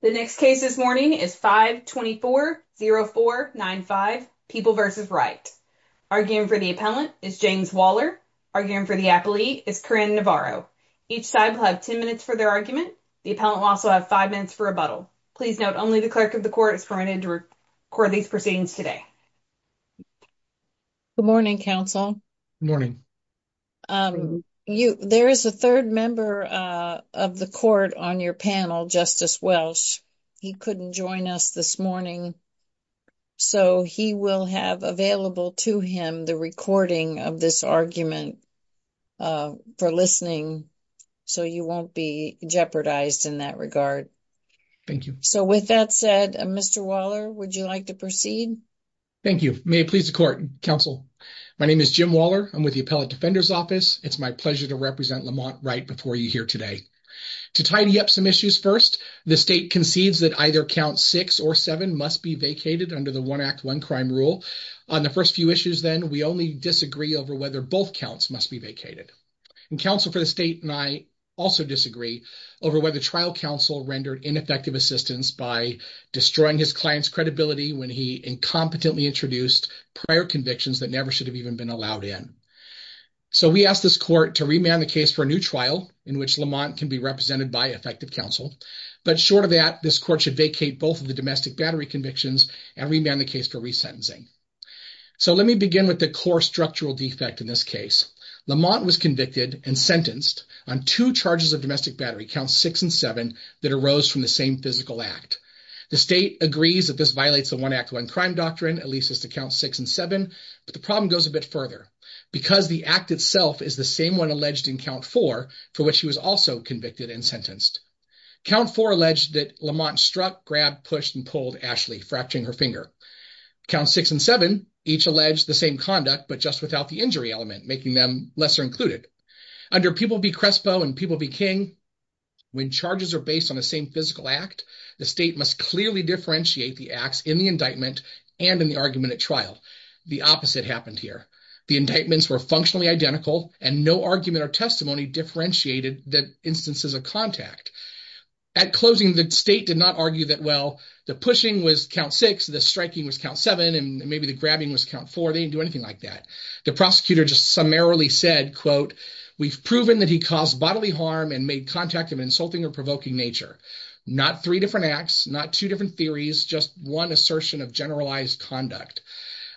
The next case this morning is 524-0495, People v. Wright. Arguing for the appellant is James Waller. Arguing for the appellee is Corinne Navarro. Each side will have 10 minutes for their argument. The appellant will also have five minutes for rebuttal. Please note only the clerk of the court is permitted to record these proceedings today. Good morning, counsel. Good morning. There is a third member of the court on your panel, Justice Welsh. He couldn't join us this morning, so he will have available to him the recording of this argument for listening, so you won't be jeopardized in that regard. Thank you. So with that said, Mr. Waller, would you like to proceed? Thank you. May it please the court, counsel. My name is Jim Waller. I'm with the Appellate Defender's Office. It's my pleasure to represent Lamont Wright before you here today. To tidy up some issues first, the state concedes that either count six or seven must be vacated under the One Act, One Crime rule. On the first few issues then, we only disagree over whether both counts must be vacated. And counsel for the state and I also disagree over whether trial counsel rendered ineffective assistance by destroying his client's credibility when he incompetently introduced prior convictions that never should have even been allowed in. So we asked this court to remand the case for a new trial in which Lamont can be represented by effective counsel, but short of that, this court should vacate both of the domestic battery convictions and remand the case for resentencing. So let me begin with the core structural defect in this case. Lamont was convicted and sentenced on two charges of domestic battery, counts six and seven, that arose from the same physical act. The state agrees that this violates the One Act, One Crime doctrine, at least as to count six and seven, but the problem goes a bit further because the act itself is the same one alleged in count four, for which he was also convicted and sentenced. Count four alleged that Lamont struck, grabbed, pushed, and pulled Ashley, fracturing her finger. Count six and seven each alleged the same conduct, but just without the injury element, making them lesser included. Under People v. Crespo and People v. King, when charges are based on the same physical act, the state must clearly differentiate the acts in the indictment and in the argument at trial. The opposite happened here. The indictments were functionally identical and no argument or testimony differentiated the instances of contact. At closing, the state did not argue that, well, the pushing was count six, the striking was count seven, and maybe the grabbing was count four. They didn't do anything like that. The prosecutor just summarily said, quote, we've proven that he caused bodily harm and made contact of insulting or provoking nature. Not three different acts, not two different theories, just one assertion of conduct.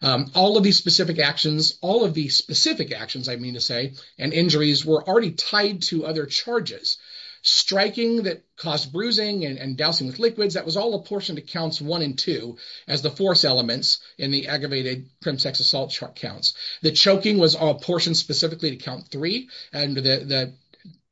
All of these specific actions, all of these specific actions, I mean to say, and injuries were already tied to other charges. Striking that caused bruising and dousing with liquids, that was all apportioned to counts one and two as the force elements in the aggravated prim sex assault counts. The choking was apportioned specifically to count three and the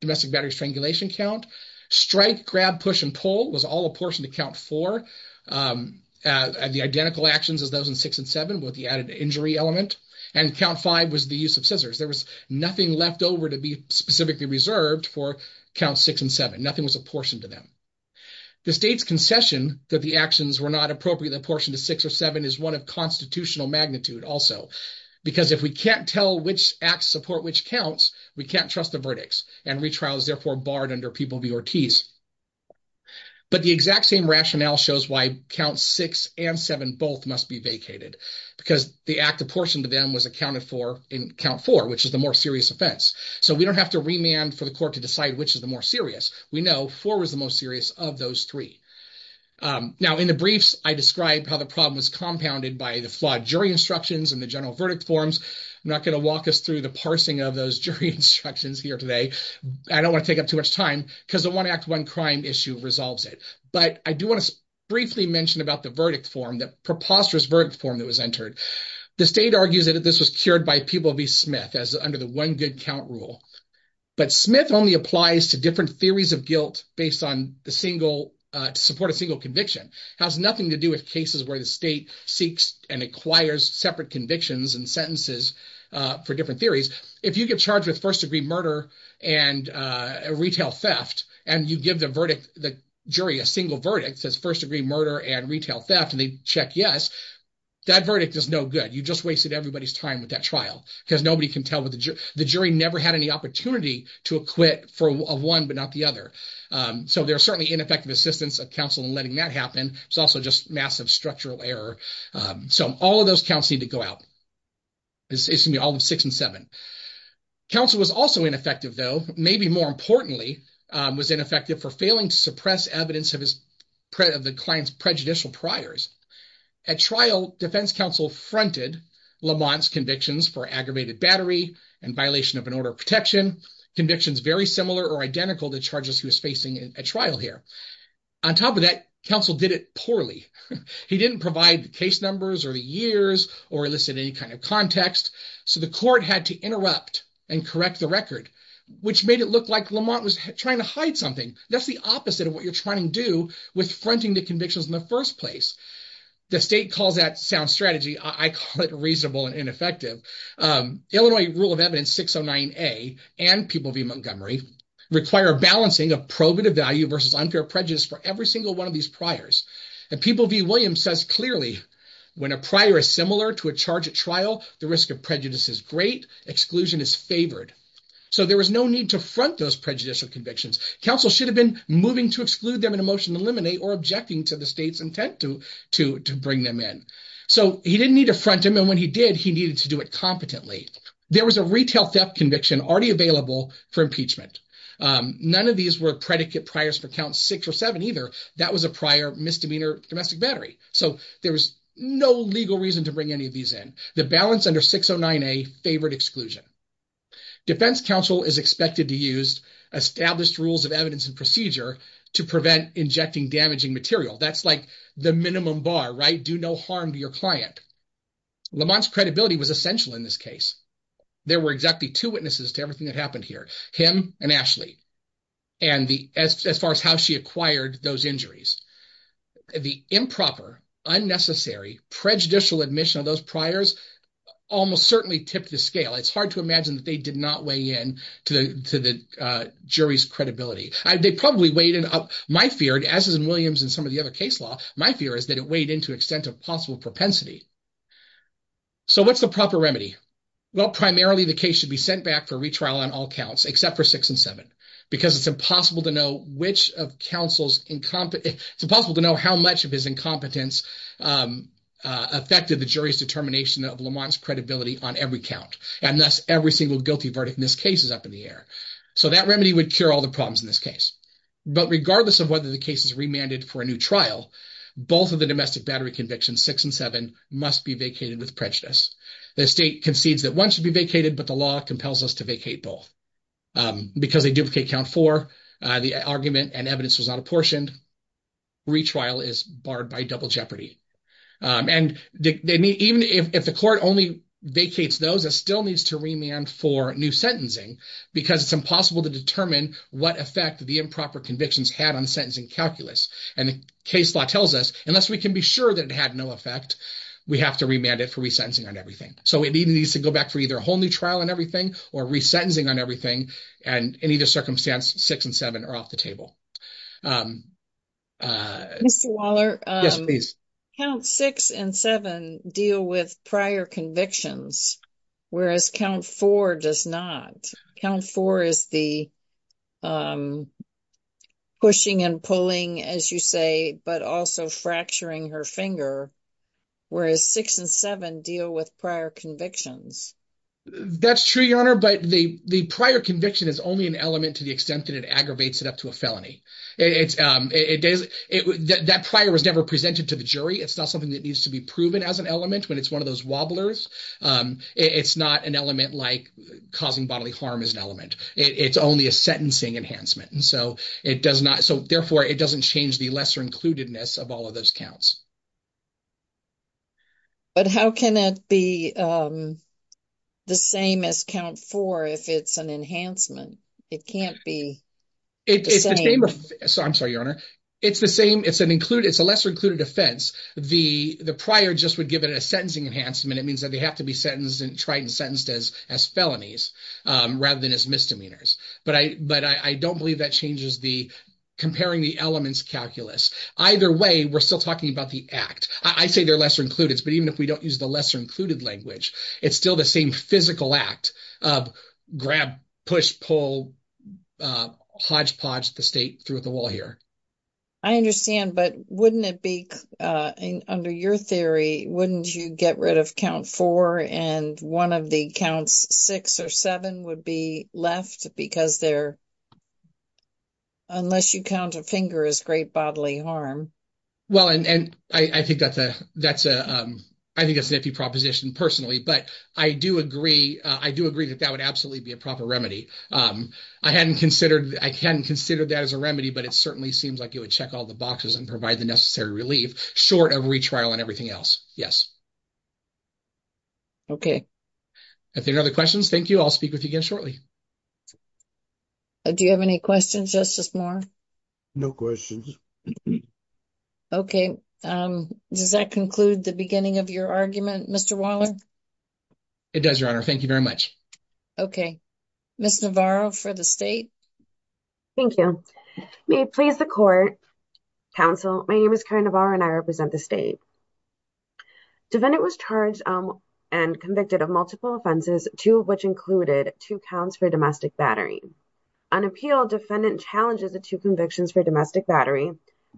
domestic battery strangulation count. Strike, grab, push, and pull was all apportioned to count four and the identical actions as those in six and seven with the added injury element, and count five was the use of scissors. There was nothing left over to be specifically reserved for count six and seven. Nothing was apportioned to them. The state's concession that the actions were not appropriately apportioned to six or seven is one of constitutional magnitude also, because if we can't tell which acts support which counts, we can't trust the verdicts, and retrial is therefore barred under people v Ortiz. But the exact same rationale shows why count six and seven both must be vacated, because the act apportioned to them was accounted for in count four, which is the more serious offense. So we don't have to remand for the court to decide which is the more serious. We know four was the most serious of those three. Now in the briefs, I describe how the problem was compounded by the flawed jury instructions and the general verdict forms. I'm not going to walk us through the parsing of those jury instructions here today. I don't want to take up too much time because the one act one crime issue resolves it. But I do want to briefly mention about the verdict form, the preposterous verdict form that was entered. The state argues that this was cured by people v Smith as under the one good count rule. But Smith only applies to different theories of guilt based on the single, to support a single conviction. It has nothing to do with cases where the state seeks and acquires separate convictions and sentences for different theories. If you get charged with first degree murder and retail theft, and you give the jury a single verdict, says first degree murder and retail theft, and they check yes, that verdict is no good. You just wasted everybody's time with that trial because nobody can tell what the jury never had any opportunity to acquit for one but not the other. So there's certainly ineffective assistance of counsel in letting that happen. It's also just massive structural error. So all of those counts need to go out. It's going to be all of six and seven. Counsel was also ineffective though. Maybe more importantly, was ineffective for failing to suppress evidence of the client's prejudicial priors. At trial, defense counsel fronted Lamont's convictions for aggravated battery and violation of an order of protection, convictions very similar or identical to charges he was facing at trial here. On top of that, counsel did it poorly. He didn't provide the case numbers or the years or elicit any kind of context. So the court had to interrupt and correct the record, which made it look like Lamont was trying to hide something. That's the opposite of what you're trying to do with fronting the convictions in the first place. The state calls that sound strategy. I call it reasonable and ineffective. Illinois Rule of Evidence 609A and People v. Montgomery require balancing of probative value versus unfair prejudice for every single one of these priors. And People v. Williams says clearly, when a prior is similar to a charge at trial, the risk of prejudice is great, exclusion is favored. So there was no need to front those prejudicial convictions. Counsel should have been moving to exclude them in a motion to eliminate or objecting to the state's intent to bring them in. So he didn't need to front him. And when he did, he needed to do it competently. There was a retail theft conviction already available for impeachment. None of these were predicate priors for count six or seven either. That was a prior misdemeanor domestic battery. So there was no legal reason to bring any of these in. The balance under 609A favored exclusion. Defense counsel is expected to use established rules of evidence and procedure to prevent injecting damaging material. That's like the minimum bar, right? Do no harm to your client. Lamont's credibility was essential in this case. There were exactly two witnesses to everything that happened here, him and Ashley. And as far as how she acquired those injuries, the improper, unnecessary prejudicial admission of those priors almost certainly tipped the scale. It's hard to imagine that they did not weigh in to the jury's credibility. They probably weighed it up. My fear, as is in Williams and some of the other case law, my fear is that it weighed into extent of possible propensity. So what's the proper remedy? Well, primarily the case should be sent back for retrial on all counts, except for six and seven. Because it's impossible to know which of counsel's incompetence, it's impossible to know how much of his incompetence affected the jury's determination of Lamont's credibility on every count. Every single guilty verdict in this case is up in the air. So that remedy would cure all the problems in this case. But regardless of whether the case is remanded for a new trial, both of the domestic battery convictions, six and seven, must be vacated with prejudice. The state concedes that one should be vacated, but the law compels us to vacate both. Because they duplicate count four, the argument and evidence was not apportioned. Retrial is barred by double jeopardy. And even if the court only vacates those, it still needs to remand for new sentencing, because it's impossible to determine what effect the improper convictions had on sentencing calculus. And the case law tells us, unless we can be sure that it had no effect, we have to remand it for resentencing on everything. So it needs to go back for either a whole new trial on everything, or resentencing on everything. And in either circumstance, six and seven are off the table. Mr. Waller, count six and seven deal with prior convictions, whereas count four does not. Count four is the pushing and pulling, as you say, but also fracturing her finger. Whereas six and seven deal with prior convictions. That's true, Your Honor. But the prior conviction is only an element to the extent that it aggravates it up to a felony. It is, that prior was never presented to the jury. It's not something that needs to be proven as an element when it's one of those wobblers. It's not an element like causing bodily harm is an element. It's only a sentencing enhancement. And so it does not, so therefore it doesn't change the lesser includedness of all of those counts. But how can it be the same as count four if it's an enhancement? It can't be the same. I'm sorry, Your Honor. It's the same, it's an included, it's a lesser included offense. The prior just would give it a sentencing enhancement. It means that they have to be sentenced and tried and sentenced as felonies rather than as misdemeanors. But I don't believe that changes the comparing the elements calculus. Either way, we're still talking about the act. I say they're lesser included, but even if we don't use the lesser included language, it's still the same physical act of grab, push, pull, hodgepodge the state through the wall here. I understand, but wouldn't it be, under your theory, wouldn't you get rid of count four and one of the counts six or seven would be left because they're, unless you count a finger is great bodily harm. Well, and I think that's a, that's a, I think it's an iffy proposition personally, but I do agree. I do agree that that would absolutely be a proper remedy. I hadn't considered, I can consider that as a remedy, but it certainly seems like it would check all the boxes and provide the necessary relief short of retrial and everything else. Okay. If there are other questions, thank you. I'll speak with you again shortly. Do you have any questions, Justice Moore? No questions. Okay. Does that conclude the beginning of your argument, Mr. Waller? It does, Your Honor. Thank you very much. Okay. Ms. Navarro for the state. Thank you. May it please the court, counsel. My name is Karen Navarro and I represent the state. Defendant was charged and convicted of multiple offenses, two of which included two counts for domestic battery. On appeal, defendant challenges the two convictions for domestic battery.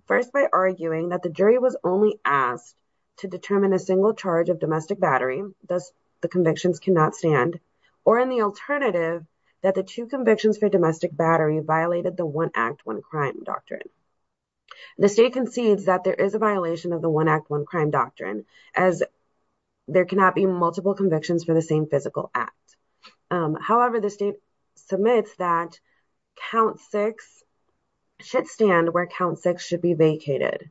First, by arguing that the jury was only asked to determine a single charge of domestic battery. Thus, the convictions cannot stand. Or in the alternative, that the two convictions for domestic battery violated the one act, one crime doctrine. The state concedes that there is a violation of the one act, one crime doctrine, as there cannot be multiple convictions for the same physical act. However, the state submits that count six should stand where count six should be vacated.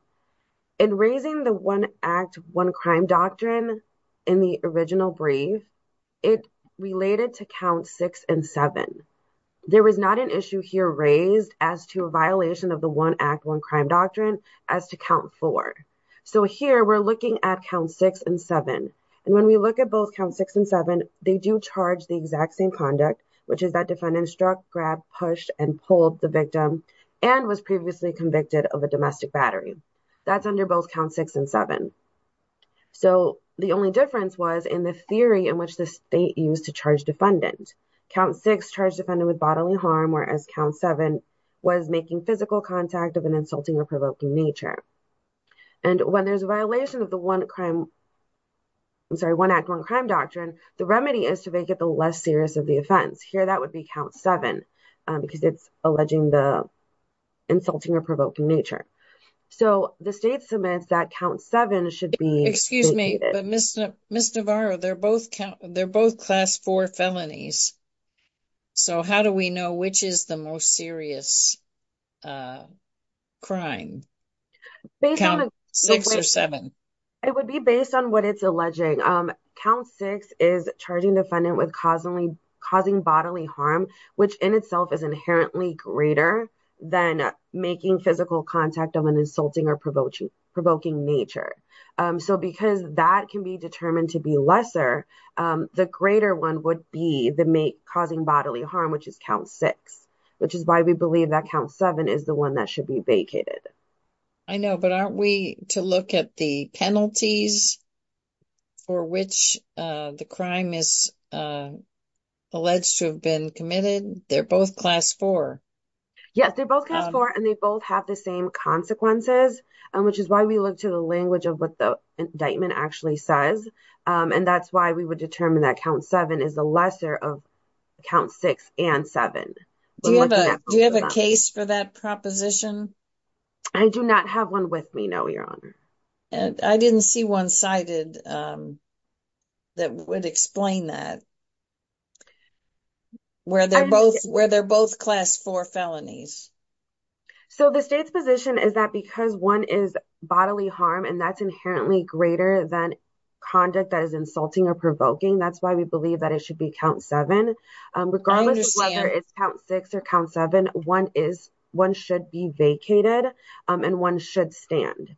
In raising the one act, one crime doctrine in the original brief, it related to count six and seven. There was not an issue here raised as to a violation of the one act, one crime doctrine as to count four. So here we're looking at count six and seven. And when we look at both count six and seven, they do charge the exact same conduct, which is that defendant struck, grabbed, pushed, and pulled the victim and was previously convicted of a domestic battery. That's under both count six and seven. So the only difference was in the theory in which the state used to charge defendant. Count six charged defendant with bodily harm, whereas count seven was making physical contact of an insulting or provoking nature. And when there's a violation of the one crime, I'm sorry, one act, one crime doctrine, the remedy is to make it the less serious of the offense. Here, that would be count seven because it's alleging the insulting or provoking nature. So the state submits that count seven should be. Excuse me, but Miss Navarro, they're both count. They're both class four felonies. So how do we know which is the most serious crime? Based on six or seven, it would be based on what it's alleging. Count six is charging defendant with causing bodily harm, which in itself is inherently greater than making physical contact of an insulting or provoking nature. So because that can be determined to be lesser, the greater one would be the mate causing bodily harm, which is count six, which is why we believe that count seven is the one that should be vacated. I know, but aren't we to look at the penalties for which the crime is alleged to have been committed? They're both class four. Yes, they're both class four, and they both have the same consequences, which is why we look to the language of what the indictment actually says. And that's why we would determine that count seven is the lesser of count six and seven. Do you have a case for that proposition? I do not have one with me. No, Your Honor. I didn't see one cited that would explain that, where they're both class four felonies. So the state's position is that because one is bodily harm, and that's inherently greater than conduct that is insulting or provoking. That's why we believe that it should be count seven. Regardless of whether it's count six or count seven, one should be vacated. And one should stand.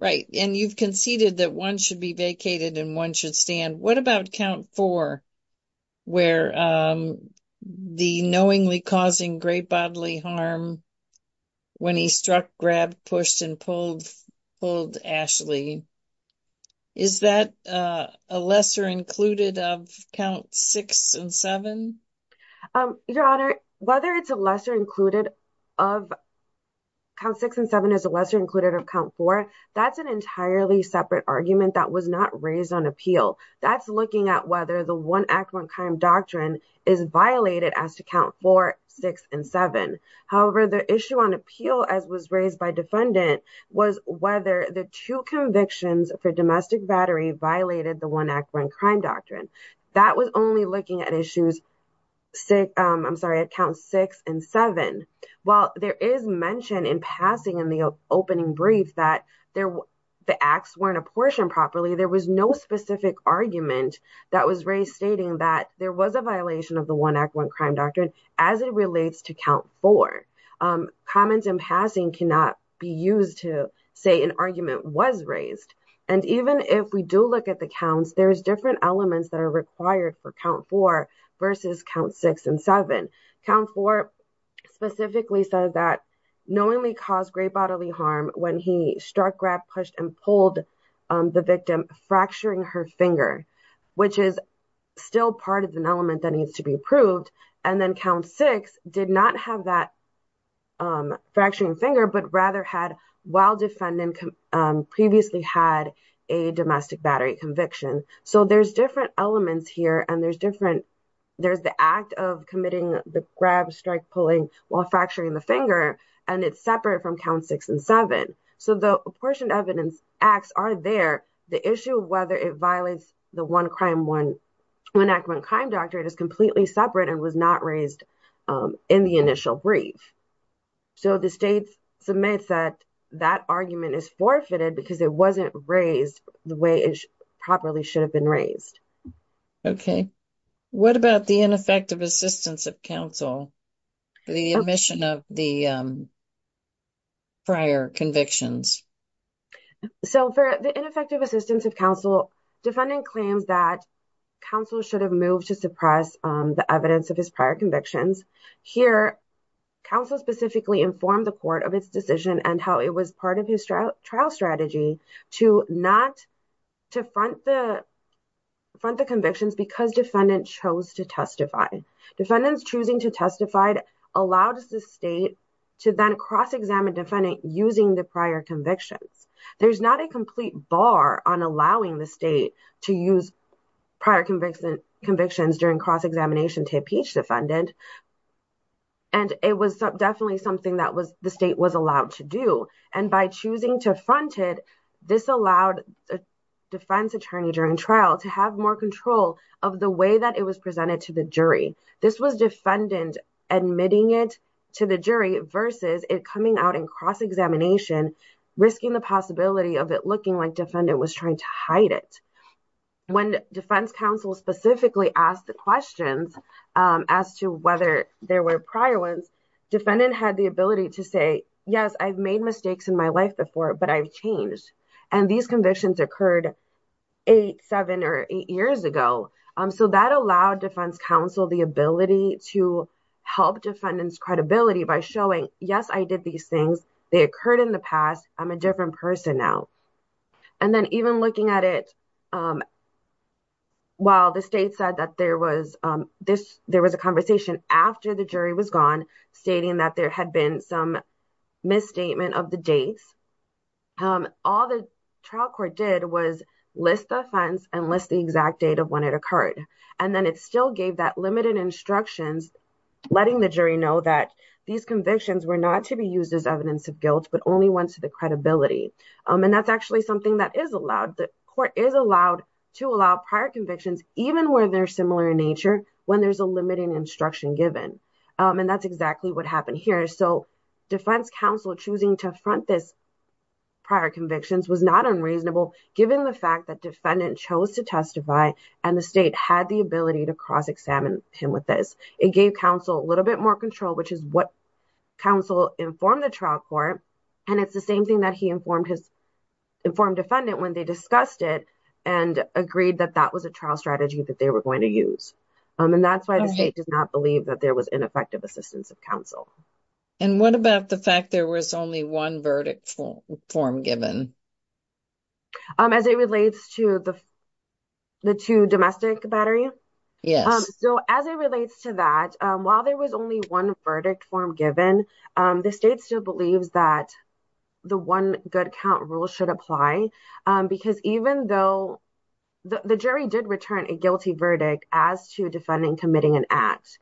Right. And you've conceded that one should be vacated and one should stand. What about count four, where the knowingly causing great bodily harm when he struck, grabbed, pushed, and pulled Ashley? Is that a lesser included of count six and seven? Your Honor, whether it's a lesser included of count six and seven is a lesser included of count four. That's an entirely separate argument that was not raised on appeal. That's looking at whether the one act one crime doctrine is violated as to count four, six, and seven. However, the issue on appeal as was raised by defendant was whether the two convictions for domestic battery violated the one act one crime doctrine. That was only looking at issues, I'm sorry, at count six and seven. While there is mention in passing in the opening brief that the acts weren't apportioned properly, there was no specific argument that was raised stating that there was a violation of the one act one crime doctrine as it relates to count four. Comments in passing cannot be used to say an argument was raised. Even if we do look at the counts, there's different elements that are required for count four versus count six and seven. Count four specifically says that knowingly caused great bodily harm when he struck, grabbed, pushed, and pulled the victim fracturing her finger, which is still part of an element that needs to be approved. Then count six did not have that fracturing finger, but rather had while defendant previously had a domestic battery conviction. There's different elements here and there's the act of committing the grab, strike, pulling while fracturing the finger, and it's separate from count six and seven. The apportioned evidence acts are there. The issue of whether it violates the one act one crime doctrine is completely separate and was not raised in the initial brief. So, the state submits that that argument is forfeited because it wasn't raised the way it properly should have been raised. Okay, what about the ineffective assistance of counsel for the admission of the prior convictions? So, for the ineffective assistance of counsel, defendant claims that counsel should have moved to suppress the evidence of his prior convictions. Here, counsel specifically informed the court of its decision and how it was part of his trial strategy to not to front the convictions because defendant chose to testify. Defendants choosing to testify allowed the state to then cross-examine defendant using the prior convictions. There's not a complete bar on allowing the state to use prior convictions during cross-examination to impeach defendant, and it was definitely something that the state was allowed to do. And by choosing to front it, this allowed the defense attorney during trial to have more control of the way that it was presented to the jury. This was defendant admitting it to the jury versus it coming out in cross-examination, risking the possibility of it looking like defendant was trying to hide it. When defense counsel specifically asked the questions as to whether there were prior ones, defendant had the ability to say, yes, I've made mistakes in my life before, but I've changed, and these convictions occurred eight, seven, or eight years ago. So, that allowed defense counsel the ability to help defendant's credibility by showing, yes, I did these things. They occurred in the past. I'm a different person now. And then even looking at it while the state said that there was a conversation after the jury was gone stating that there had been some misstatement of the dates, all the trial court did was list the offense and list the exact date of when it occurred. And then it still gave that limited instructions, letting the jury know that these convictions were not to be used as evidence of guilt, but only went to the credibility. And that's actually something that is allowed. The court is allowed to allow prior convictions, even where they're similar in nature, when there's a limited instruction given. And that's exactly what happened here. So, defense counsel choosing to front this prior convictions was not unreasonable given the fact that defendant chose to testify and the state had the ability to cross-examine him with this. It gave counsel a little bit more control, which is what counsel informed the trial court. And it's the same thing that he informed defendant when they discussed it and agreed that that was a trial strategy that they were going to use. And that's why the state does not believe that there was ineffective assistance of counsel. And what about the fact there was only one verdict form given? As it relates to the two domestic battery? Yes. So, as it relates to that, while there was only one verdict form given, the state still believes that the one good count rule should apply because even though the jury did return a guilty verdict as to defendant committing an act,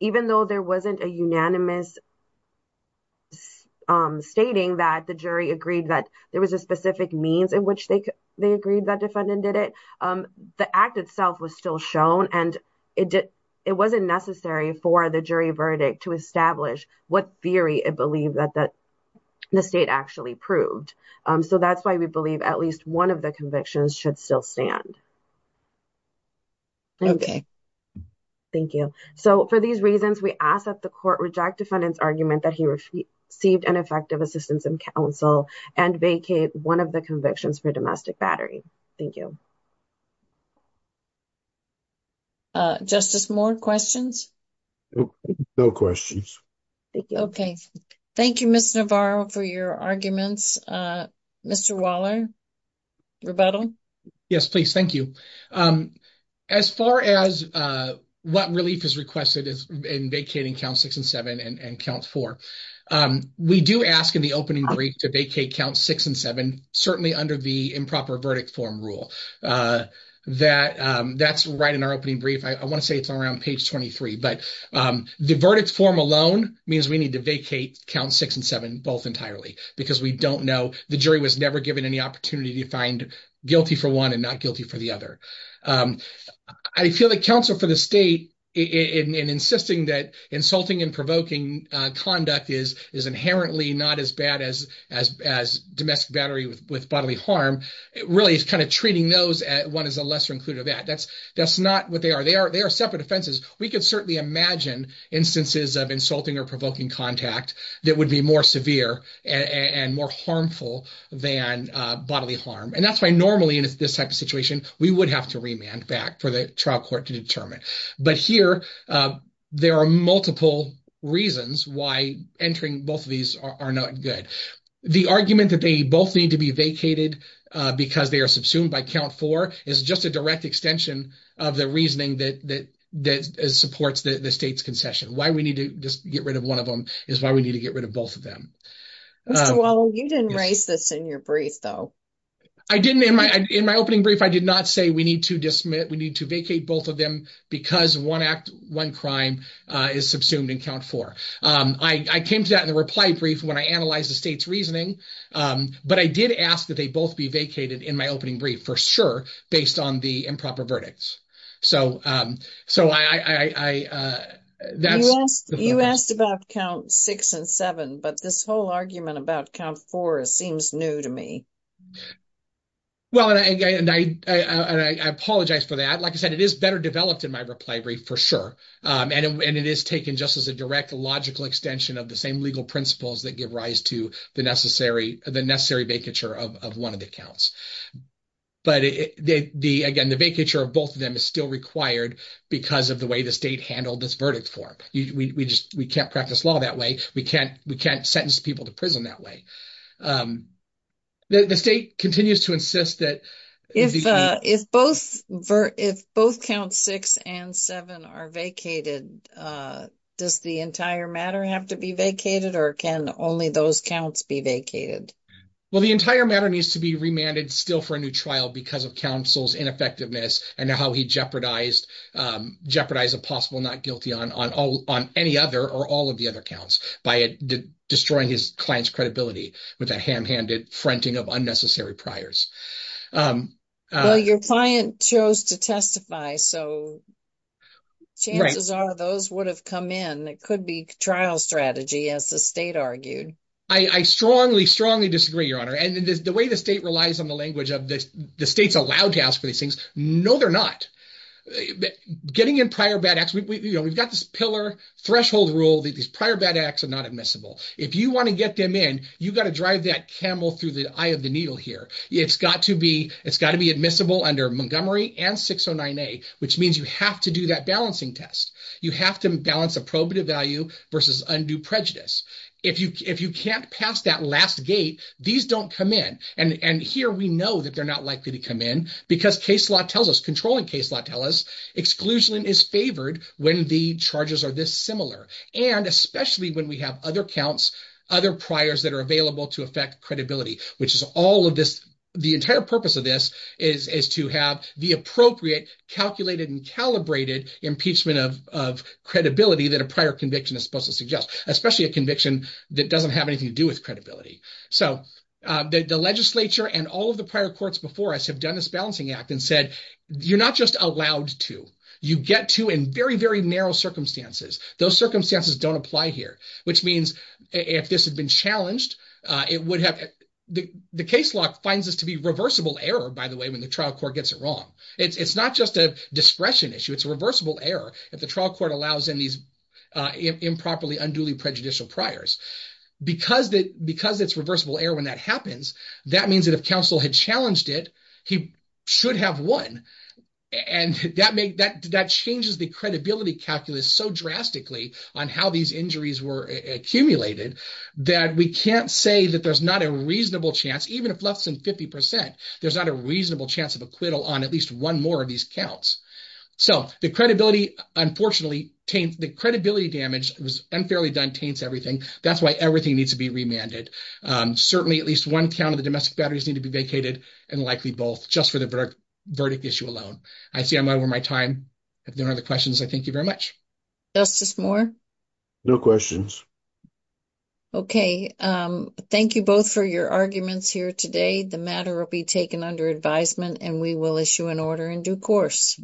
even though there wasn't a unanimous stating that the jury agreed that there was a specific means in which they agreed that defendant did it, the act itself was still shown and it wasn't necessary for the jury verdict to establish what theory it believed that the state actually proved. So, that's why we believe at least one of the convictions should still stand. Thank you. So, for these reasons, we ask that the court reject defendant's argument that he received ineffective assistance in counsel and vacate one of the convictions for domestic battery. Thank you. Justice Moore, questions? No questions. Okay. Thank you, Mr. Navarro, for your arguments. Mr. Waller, rebuttal? Yes, please. Thank you. As far as what relief is requested in vacating count six and seven and count four, we do ask in the opening brief to vacate count six and seven, certainly under the improper verdict form rule. That's right in our opening brief. I want to say it's around page 23, but the verdict form alone means we need to vacate count six and seven both entirely because we don't know. The jury was never given any opportunity to find guilty for one and not guilty for the other. I feel that counsel for the state in insisting that insulting and provoking conduct is inherently not as bad as domestic battery with bodily harm, it really is kind of treating those as one is a lesser included of that. That's not what they are. They are separate offenses. We can certainly imagine instances of insulting or provoking contact that would be more severe and more harmful than bodily harm. And that's why normally in this type of situation, we would have to remand back for the trial court to determine. But here there are multiple reasons why entering both of these are not good. The argument that they both need to be vacated because they are subsumed by count four is just a direct extension of the reasoning that supports the state's concession. Why we need to just get rid of one of them is why we need to get rid of both of them. Well, you didn't raise this in your brief, though. I didn't in my opening brief. I did not say we need to dismiss. We need to vacate both of them because one act, one crime is subsumed in count four. I came to that in the reply brief when I analyzed the state's reasoning. But I did ask that they both be vacated in my opening brief, for sure, based on the improper verdicts. You asked about count six and seven, but this whole argument about count four seems new to me. Well, and I apologize for that. Like I said, it is better developed in my reply brief, for sure. And it is taken just as a direct logical extension of the same legal principles that give rise to the necessary vacature of one of the counts. But again, the vacature of both of them is still required because of the way the state handled this verdict form. We can't practice law that way. We can't sentence people to prison that way. The state continues to insist that... If both count six and seven are vacated, does the entire matter have to be vacated, or can only those counts be vacated? Well, the entire matter needs to be remanded still for a new trial because of counsel's ineffectiveness and how he jeopardized a possible not guilty on any other or all of the other counts by destroying his client's credibility with a ham-handed fronting of unnecessary priors. Your client chose to testify, so chances are those would have come in. It could be trial strategy, as the state argued. I strongly, strongly disagree, Your Honor. And the way the state relies on the language of the state's allowed to ask for these things, no, they're not. Getting in prior bad acts, we've got this pillar threshold rule that these prior bad acts are not admissible. If you want to get them in, you've got to drive that camel through the eye of the needle here. It's got to be admissible under Montgomery and 609A, which means you have to do that balancing test. You have to balance appropriate value versus undue prejudice. If you can't pass that last gate, these don't come in. And here we know that they're not likely to come in because case law tells us, controlling case law tells us, exclusion is favored when the charges are this similar. And especially when we have other counts, other priors that are available to affect credibility, which is all of this. The entire purpose of this is to have the appropriate calculated and calibrated impeachment of credibility that a prior conviction is supposed to suggest, especially a conviction that doesn't have anything to do with credibility. So the legislature and all of the prior courts before us have done this balancing act and said, you're not just allowed to. You get to in very, very narrow circumstances. Those circumstances don't apply here, which means if this had been challenged, it would have... The case law finds this to be reversible error, by the way, when the trial court gets it wrong. It's not just a discretion issue. It's a reversible error if the trial court allows in these improperly unduly prejudicial priors. Because it's reversible error when that happens, that means that if counsel had challenged it, he should have won. And that changes the credibility calculus so drastically on how these injuries were accumulated that we can't say that there's not a reasonable chance, even if less than 50%, there's not a reasonable chance of acquittal on at least one more of these counts. So the credibility, unfortunately, the credibility damage was unfairly done, taints everything. That's why everything needs to be remanded. Certainly at least one count of the domestic batteries need to be vacated and likely both just for the verdict issue alone. I see I'm over my time. If there are other questions, I thank you very much. Justice Moore? No questions. Okay. Thank you both for your arguments here today. The matter will be taken under advisement and we will issue an order in due course.